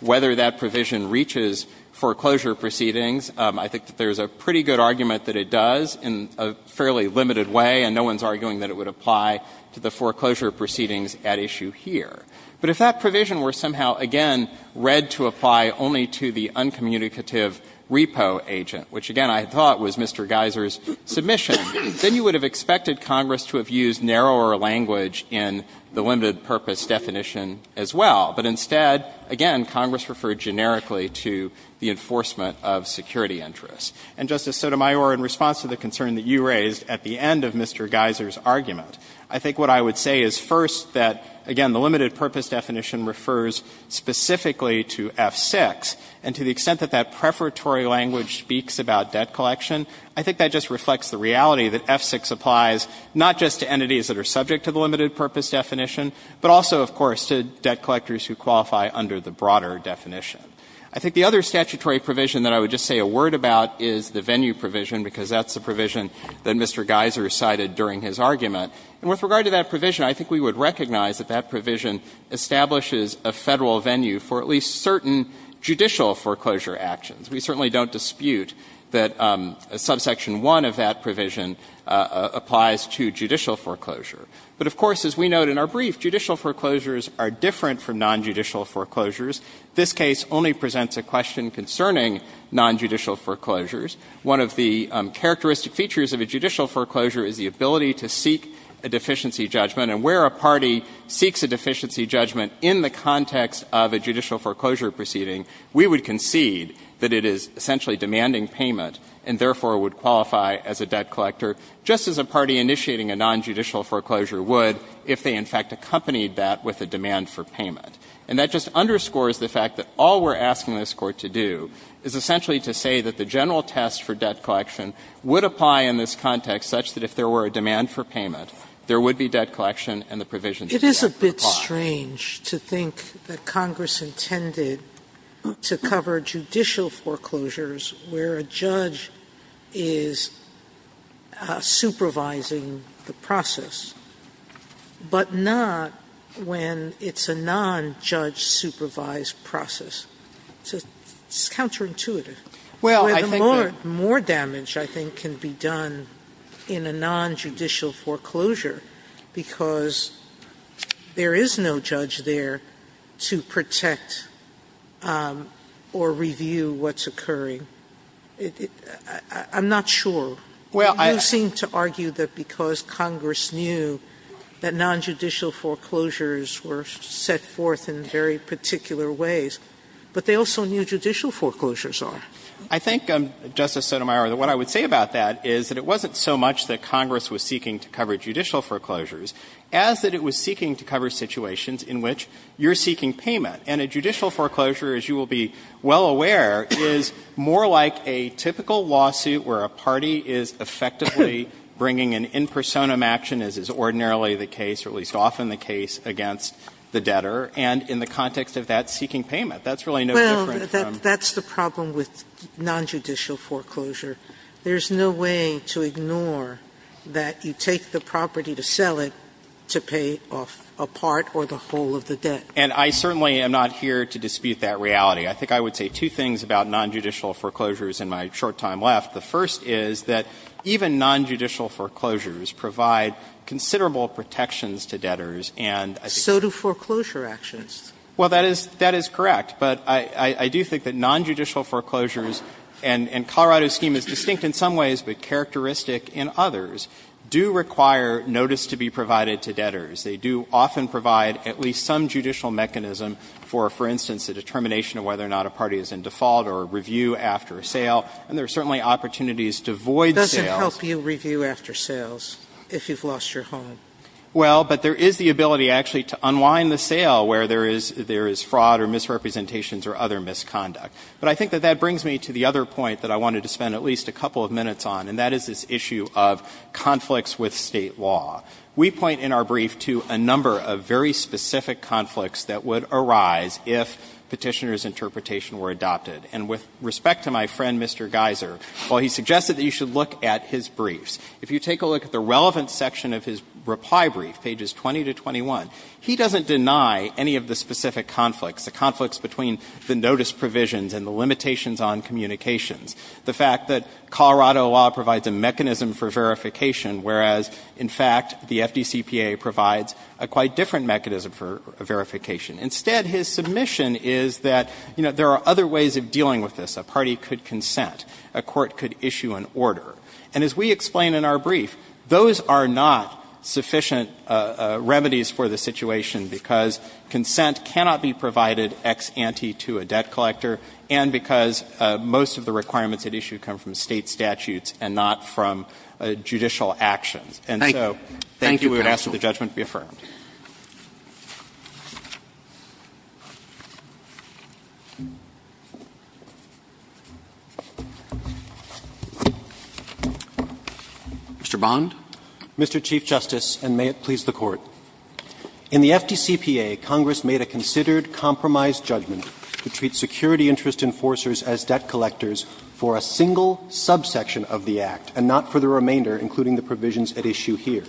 whether that provision reaches foreclosure proceedings, I think that there's a pretty good argument that it does in a fairly limited way, and no one's arguing that it would apply to the foreclosure proceedings at issue here. But if that provision were somehow, again, read to apply only to the uncommunicative repo agent, which, again, I thought was Mr. Geiser's submission, then you would have expected Congress to have used narrower language in the limited purpose definition as well. But instead, again, Congress referred generically to the enforcement of security interests. And, Justice Sotomayor, in response to the concern that you raised at the end of Mr. Geiser's argument, I think what I would say is, first, that, again, the limited purpose definition refers specifically to F-6, and to the extent that that preparatory language speaks about debt collection, I think that just reflects the reality that F-6 applies not just to entities that are subject to the limited purpose definition, but also, of course, to debt collectors who qualify under the broader definition. I think the other statutory provision that I would just say a word about is the venue provision, because that's the provision that Mr. Geiser cited during his argument. And with regard to that provision, I think we would recognize that that provision establishes a Federal venue for at least certain judicial foreclosure actions. We certainly don't dispute that subsection 1 of that provision applies to judicial foreclosure. But, of course, as we note in our brief, judicial foreclosures are different from nonjudicial foreclosures. This case only presents a question concerning nonjudicial foreclosures. One of the characteristic features of a judicial foreclosure is the ability to seek a deficiency judgment. And where a party seeks a deficiency judgment in the context of a judicial foreclosure proceeding, we would concede that it is essentially demanding payment, and therefore would qualify as a debt collector, just as a party initiating a nonjudicial foreclosure would if they, in fact, accompanied that with a demand for payment. And that just underscores the fact that all we're asking this Court to do is essentially to say that the general test for debt collection would apply in this context such that if there were a demand for payment, there would be debt collection and the provisions of the act would apply. Sotomayor, it's strange to think that Congress intended to cover judicial foreclosures where a judge is supervising the process, but not when it's a nonjudge-supervised process. It's counterintuitive. The more damage, I think, can be done in a nonjudicial foreclosure, because there is no judge there to protect or review what's occurring. I'm not sure. You seem to argue that because Congress knew that nonjudicial foreclosures were set forth in very particular ways, but they also knew judicial foreclosures are. I think, Justice Sotomayor, that what I would say about that is that it wasn't so much that Congress was seeking to cover judicial foreclosures as that it was seeking to cover situations in which you're seeking payment. And a judicial foreclosure, as you will be well aware, is more like a typical lawsuit where a party is effectively bringing an in personam action, as is ordinarily the case, or at least often the case, against the debtor, and in the context of that seeking payment. That's really no different from the other. Sotomayor, that's the problem with nonjudicial foreclosure. There's no way to ignore that you take the property to sell it to pay off a part or the whole of the debt. And I certainly am not here to dispute that reality. I think I would say two things about nonjudicial foreclosures in my short time left. The first is that even nonjudicial foreclosures provide considerable protections to debtors, and I think that's true. So do foreclosure actions. Well, that is correct, but I do think that nonjudicial foreclosures and Colorado's scheme is distinct in some ways, but characteristic in others, do require notice to be provided to debtors. They do often provide at least some judicial mechanism for, for instance, a determination of whether or not a party is in default or review after a sale, and there are certainly opportunities to void sales. Sotomayor, does it help you review after sales if you've lost your home? Well, but there is the ability actually to unwind the sale where there is fraud or misrepresentations or other misconduct. But I think that that brings me to the other point that I wanted to spend at least a couple of minutes on, and that is this issue of conflicts with State law. We point in our brief to a number of very specific conflicts that would arise if Petitioner's interpretation were adopted. And with respect to my friend, Mr. Geiser, while he suggested that you should look at his briefs, if you take a look at the relevant section of his reply brief, pages 20 to 21, he doesn't deny any of the specific conflicts, the conflicts between the notice provisions and the limitations on communications. The fact that Colorado law provides a mechanism for verification, whereas, in fact, the FDCPA provides a quite different mechanism for verification. Instead, his submission is that, you know, there are other ways of dealing with this. A party could consent. A court could issue an order. And as we explain in our brief, those are not sufficient remedies for the situation because consent cannot be provided ex ante to a debt collector and because most of the requirements at issue come from State statutes and not from judicial actions. And so, thank you. We would ask that the judgment be affirmed. Mr. Bond. In the FDCPA, Congress made a considered compromised judgment to treat security interest enforcers as debt collectors for a single subsection of the Act and not for the remainder, including the provisions at issue here.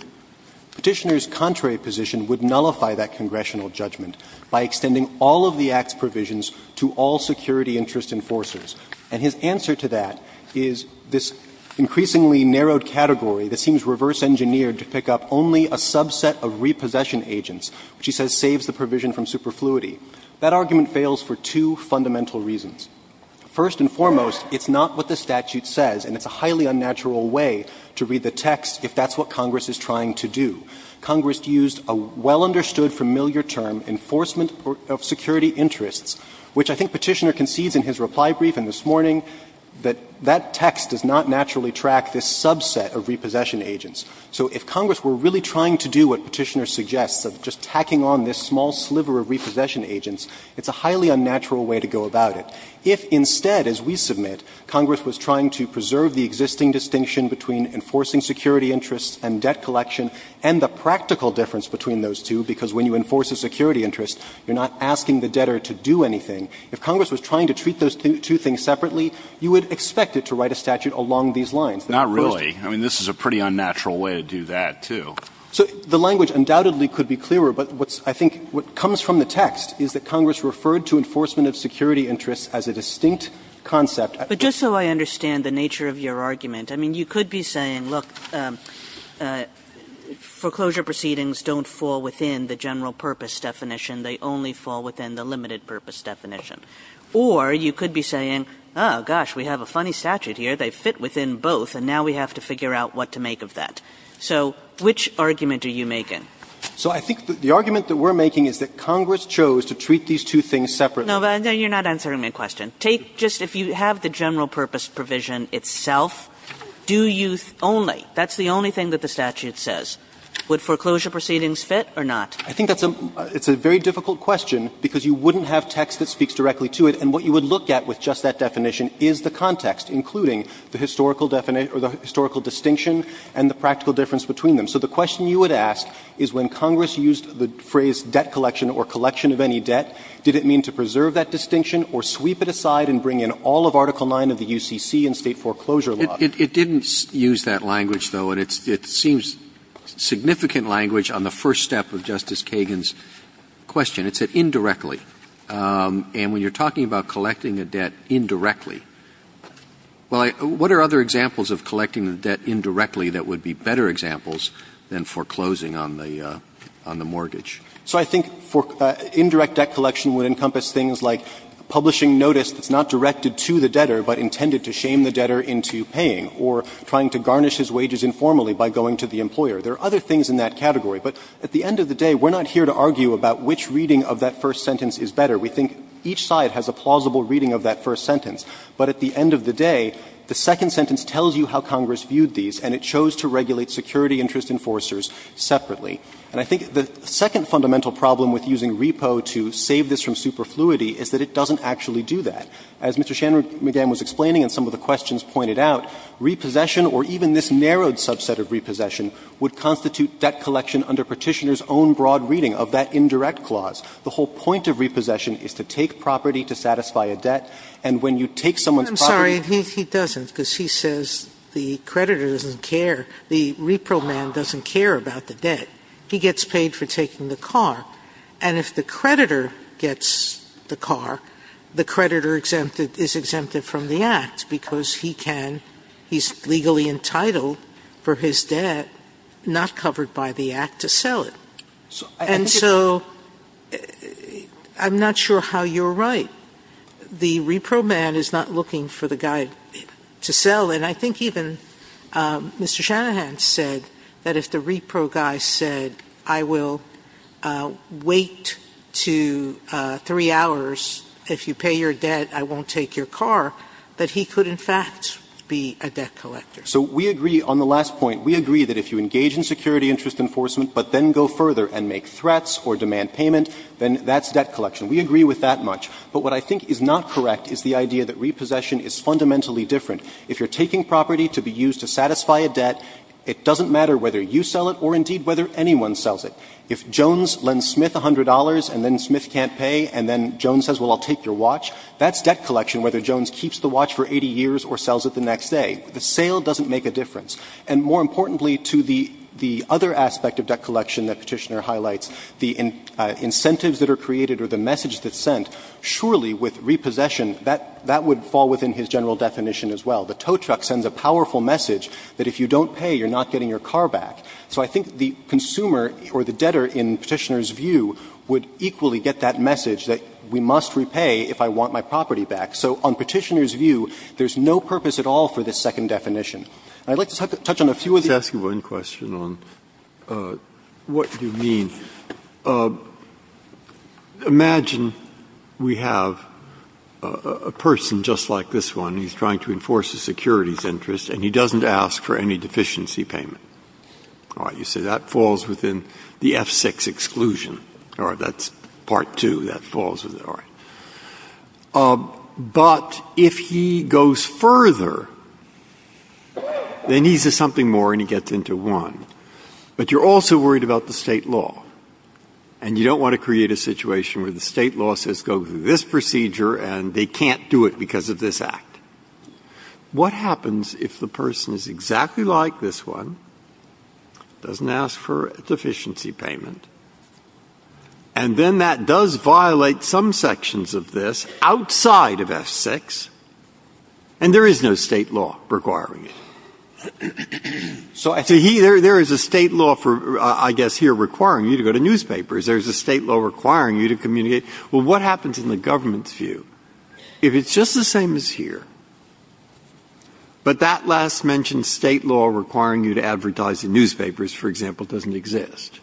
Petitioner's contrary position would nullify that congressional judgment by extending all of the Act's provisions to all security interest enforcers. And his answer to that is this increasingly narrowed category that seems reverse engineered to pick up only a subset of repossession agents, which he says saves the provision from superfluity. That argument fails for two fundamental reasons. First and foremost, it's not what the statute says, and it's a highly unnatural way to read the text if that's what Congress is trying to do. Congress used a well-understood familiar term, enforcement of security interests, which I think Petitioner concedes in his reply brief and this morning that that text does not naturally track this subset of repossession agents. So if Congress were really trying to do what Petitioner suggests of just tacking on this small sliver of repossession agents, it's a highly unnatural way to go about it. If instead, as we submit, Congress was trying to preserve the existing distinction between enforcing security interests and debt collection and the practical difference between those two, because when you enforce a security interest, you're not asking the debtor to do anything, if Congress was trying to treat those two things separately, you would expect it to write a statute along these lines. Not really. I mean, this is a pretty unnatural way to do that, too. So the language undoubtedly could be clearer, but what's – I think what comes from the text is that Congress referred to enforcement of security interests as a distinct concept. But just so I understand the nature of your argument, I mean, you could be saying, look, foreclosure proceedings don't fall within the general purpose definition. They only fall within the limited purpose definition. Or you could be saying, oh, gosh, we have a funny statute here. They fit within both, and now we have to figure out what to make of that. So which argument are you making? So I think the argument that we're making is that Congress chose to treat these two things separately. No, but you're not answering my question. Take just – if you have the general purpose provision itself, do you only – that's the only thing that the statute says. Would foreclosure proceedings fit or not? I think that's a – it's a very difficult question, because you wouldn't have text that speaks directly to it. And what you would look at with just that definition is the context, including the historical definition – or the historical distinction and the practical difference between them. So the question you would ask is when Congress used the phrase debt collection or collection of any debt, did it mean to preserve that distinction or sweep it aside and bring in all of Article 9 of the UCC and State foreclosure law? Roberts. It didn't use that language, though, and it seems significant language on the first step of Justice Kagan's question. It said indirectly. And when you're talking about collecting a debt indirectly, well, I – what are other examples of collecting a debt indirectly that would be better examples than foreclosing on the – on the mortgage? So I think indirect debt collection would encompass things like publishing notice that's not directed to the debtor, but intended to shame the debtor into paying, or trying to garnish his wages informally by going to the employer. There are other things in that category, but at the end of the day, we're not here to argue about which reading of that first sentence is better. We think each side has a plausible reading of that first sentence. But at the end of the day, the second sentence tells you how Congress viewed these, and it chose to regulate security interest enforcers separately. And I think the second fundamental problem with using repo to save this from superfluity is that it doesn't actually do that. As Mr. Shanmugam was explaining and some of the questions pointed out, repossession or even this narrowed subset of repossession would constitute debt collection under Petitioner's own broad reading of that indirect clause. The whole point of repossession is to take property to satisfy a debt, and when you take someone's property to satisfy a debt. Sotomayor, I'm sorry, he doesn't, because he says the creditor doesn't care, the repro man doesn't care about the debt. He gets paid for taking the car. And if the creditor gets the car, the creditor exempted – is exempted from the act because he can – he's legally entitled for his debt not covered by the act to sell it. And so I'm not sure how you're right. The repro man is not looking for the guy to sell. And I think even Mr. Shanahan said that if the repro guy said, I will wait to 3 hours. If you pay your debt, I won't take your car, that he could, in fact, be a debt collector. So we agree on the last point. We agree that if you engage in security interest enforcement but then go further and make threats or demand payment, then that's debt collection. We agree with that much. But what I think is not correct is the idea that repossession is fundamentally different. If you're taking property to be used to satisfy a debt, it doesn't matter whether you sell it or indeed whether anyone sells it. If Jones lends Smith $100 and then Smith can't pay and then Jones says, well, I'll take your watch, that's debt collection whether Jones keeps the watch for 80 years or sells it the next day. The sale doesn't make a difference. And more importantly to the other aspect of debt collection that Petitioner highlights, the incentives that are created or the message that's sent, surely with repossession, that would fall within his general definition as well. The tow truck sends a powerful message that if you don't pay, you're not getting your car back. So I think the consumer or the debtor in Petitioner's view would equally get that message that we must repay if I want my property back. So on Petitioner's view, there's no purpose at all for this second definition. And I'd like to touch on a few of these. Breyer, let me just ask you one question on what you mean. Imagine we have a person just like this one, he's trying to enforce a securities interest and he doesn't ask for any deficiency payment. All right, you say that falls within the F-6 exclusion, or that's part two, that falls within, all right. But if he goes further, then he says something more and he gets into one. But you're also worried about the State law. And you don't want to create a situation where the State law says go through this procedure and they can't do it because of this act. What happens if the person is exactly like this one, doesn't ask for a deficiency payment, and then that does violate some sections of this outside of F-6, and there is no State law requiring it? So there is a State law for, I guess, here requiring you to go to newspapers. There is a State law requiring you to communicate. Well, what happens in the government's view? If it's just the same as here, but that last-mentioned State law requiring you to advertise in newspapers, for example, doesn't exist.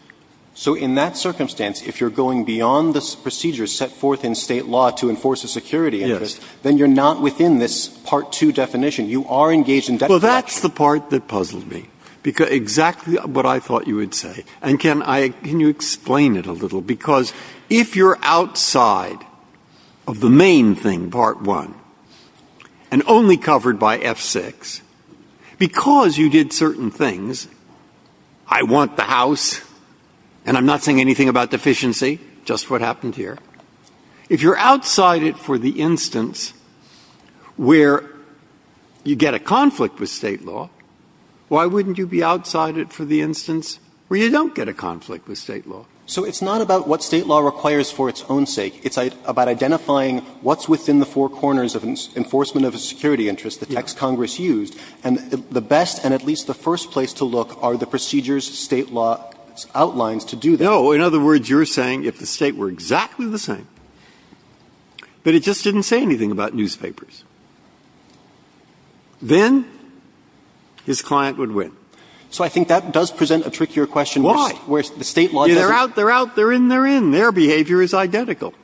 So in that circumstance, if you're going beyond the procedures set forth in State law to enforce a security interest, then you're not within this part two definition. You are engaged in debt fraud. Well, that's the part that puzzled me, exactly what I thought you would say. And can you explain it a little? Because if you're outside of the main thing, part one, and only covered by F-6, because you did certain things, I want the house and I'm not saying anything about deficiency, just what happened here. If you're outside it for the instance where you get a conflict with State law, why wouldn't you be outside it for the instance where you don't get a conflict with State law? So it's not about what State law requires for its own sake. It's about identifying what's within the four corners of enforcement of a security interest, the text Congress used. And the best and at least the first place to look are the procedures State law outlines to do that. No. In other words, you're saying if the State were exactly the same, but it just didn't say anything about newspapers, then his client would win. So I think that does present a trickier question. Why? Where the State law doesn't. They're out, they're out, they're in, they're in. Their behavior is identical.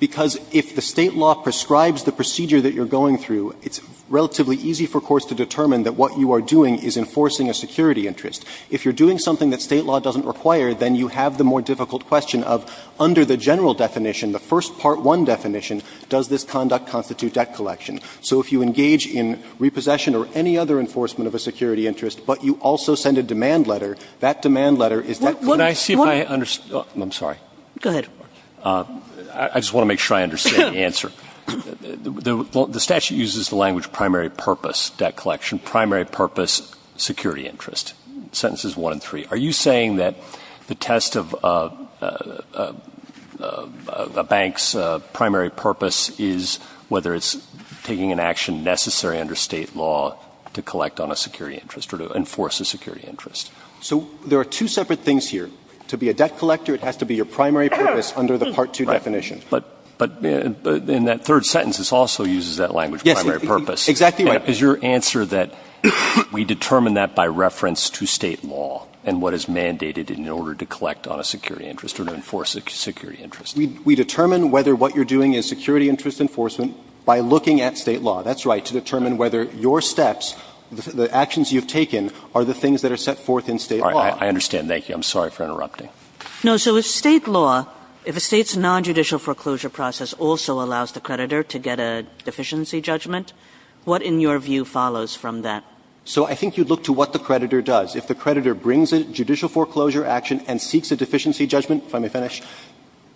Because if the State law prescribes the procedure that you're going through, it's relatively easy for courts to determine that what you are doing is enforcing a security interest. If you're doing something that State law doesn't require, then you have the more difficult question of under the general definition, the first part one definition, does this conduct constitute debt collection? So if you engage in repossession or any other enforcement of a security interest, but you also send a demand letter, that demand letter is that. Roberts. I see if I understand. I'm sorry. Go ahead. I just want to make sure I understand the answer. The statute uses the language primary purpose debt collection, primary purpose security interest. Sentences one and three. Are you saying that the test of a bank's primary purpose is whether it's taking an action necessary under State law to collect on a security interest or to enforce a security interest? So there are two separate things here. To be a debt collector, it has to be your primary purpose under the part two definition. But in that third sentence, it also uses that language primary purpose. Exactly right. Is your answer that we determine that by reference to State law and what is mandated in order to collect on a security interest or to enforce a security interest? We determine whether what you're doing is security interest enforcement by looking at State law. That's right, to determine whether your steps, the actions you've taken, are the things that are set forth in State law. I understand. Thank you. I'm sorry for interrupting. No. So if State law, if a State's nonjudicial foreclosure process also allows the creditor to get a deficiency judgment, what in your view follows from that? So I think you'd look to what the creditor does. If the creditor brings a judicial foreclosure action and seeks a deficiency judgment, if I may finish,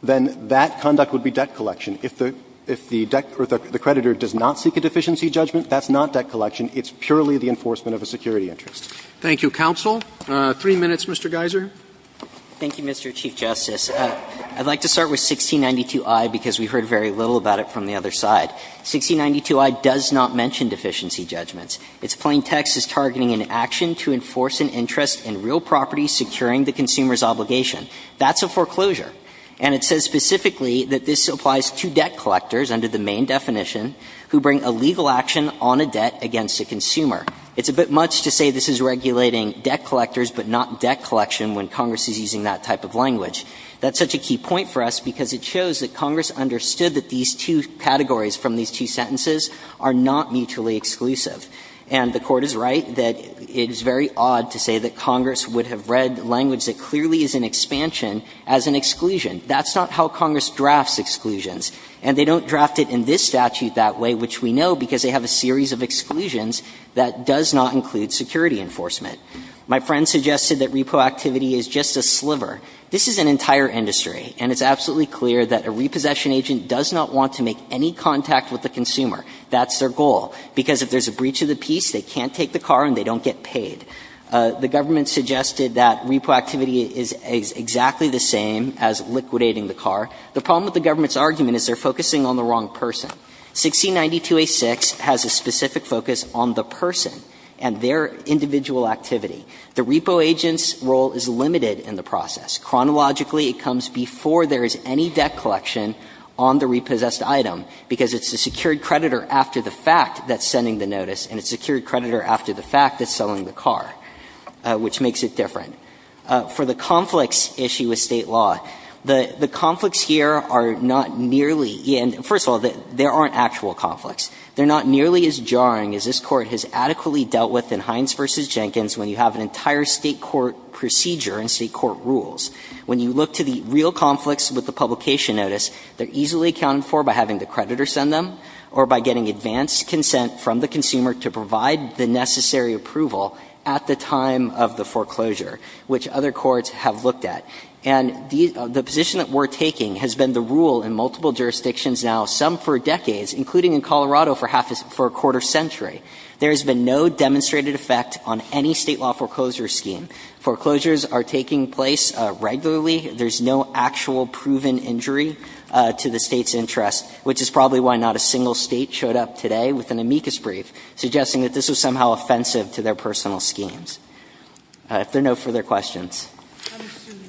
then that conduct would be debt collection. If the debt or the creditor does not seek a deficiency judgment, that's not debt collection. It's purely the enforcement of a security interest. Thank you, counsel. Three minutes, Mr. Geiser. Thank you, Mr. Chief Justice. I'd like to start with 1692i because we heard very little about it from the other side. 1692i does not mention deficiency judgments. Its plain text is targeting an action to enforce an interest in real property securing the consumer's obligation. That's a foreclosure. And it says specifically that this applies to debt collectors under the main definition who bring a legal action on a debt against a consumer. It's a bit much to say this is regulating debt collectors, but not debt collection when Congress is using that type of language. That's such a key point for us because it shows that Congress understood that these two categories from these two sentences are not mutually exclusive. And the Court is right that it is very odd to say that Congress would have read language that clearly is an expansion as an exclusion. That's not how Congress drafts exclusions. And they don't draft it in this statute that way, which we know because they have a series of exclusions that does not include security enforcement. My friend suggested that repo activity is just a sliver. This is an entire industry, and it's absolutely clear that a repossession agent does not want to make any contact with the consumer. That's their goal, because if there's a breach of the peace, they can't take the car and they don't get paid. The government suggested that repo activity is exactly the same as liquidating the car. The problem with the government's argument is they're focusing on the wrong person. 1692a6 has a specific focus on the person and their individual activity. The repo agent's role is limited in the process. Chronologically, it comes before there is any debt collection on the repossessed item, because it's the secured creditor after the fact that's sending the notice, and it's the secured creditor after the fact that's selling the car, which makes it different. For the conflicts issue with State law, the conflicts here are not nearly – and first of all, there aren't actual conflicts. They're not nearly as jarring as this Court has adequately dealt with in Hines v. Jenkins when you have an entire State court procedure and State court rules. When you look to the real conflicts with the publication notice, they're easily accounted for by having the creditor send them or by getting advanced consent from the consumer to provide the necessary approval at the time of the foreclosure, which other courts have looked at. And the position that we're taking has been the rule in multiple jurisdictions now, some for decades, including in Colorado for a quarter century. There has been no demonstrated effect on any State law foreclosure scheme. Foreclosures are taking place regularly. There's no actual proven injury to the State's interest, which is probably why not a single State showed up today with an amicus brief suggesting that this was somehow offensive to their personal schemes. If there are no further questions. Sotomayor, I'm assuming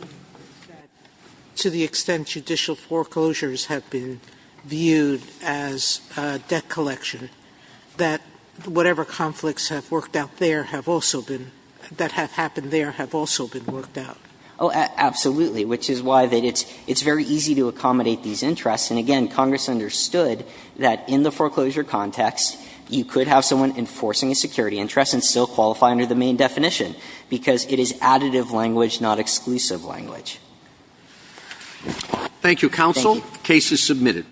that to the extent judicial foreclosures have been viewed as debt collection, that whatever conflicts have worked out there have also been – that have happened there have also been worked out. Oh, absolutely, which is why it's very easy to accommodate these interests. And again, Congress understood that in the foreclosure context, you could have someone enforcing a security interest and still qualify under the main definition, because it is additive language, not exclusive language. Thank you, counsel. The case is submitted.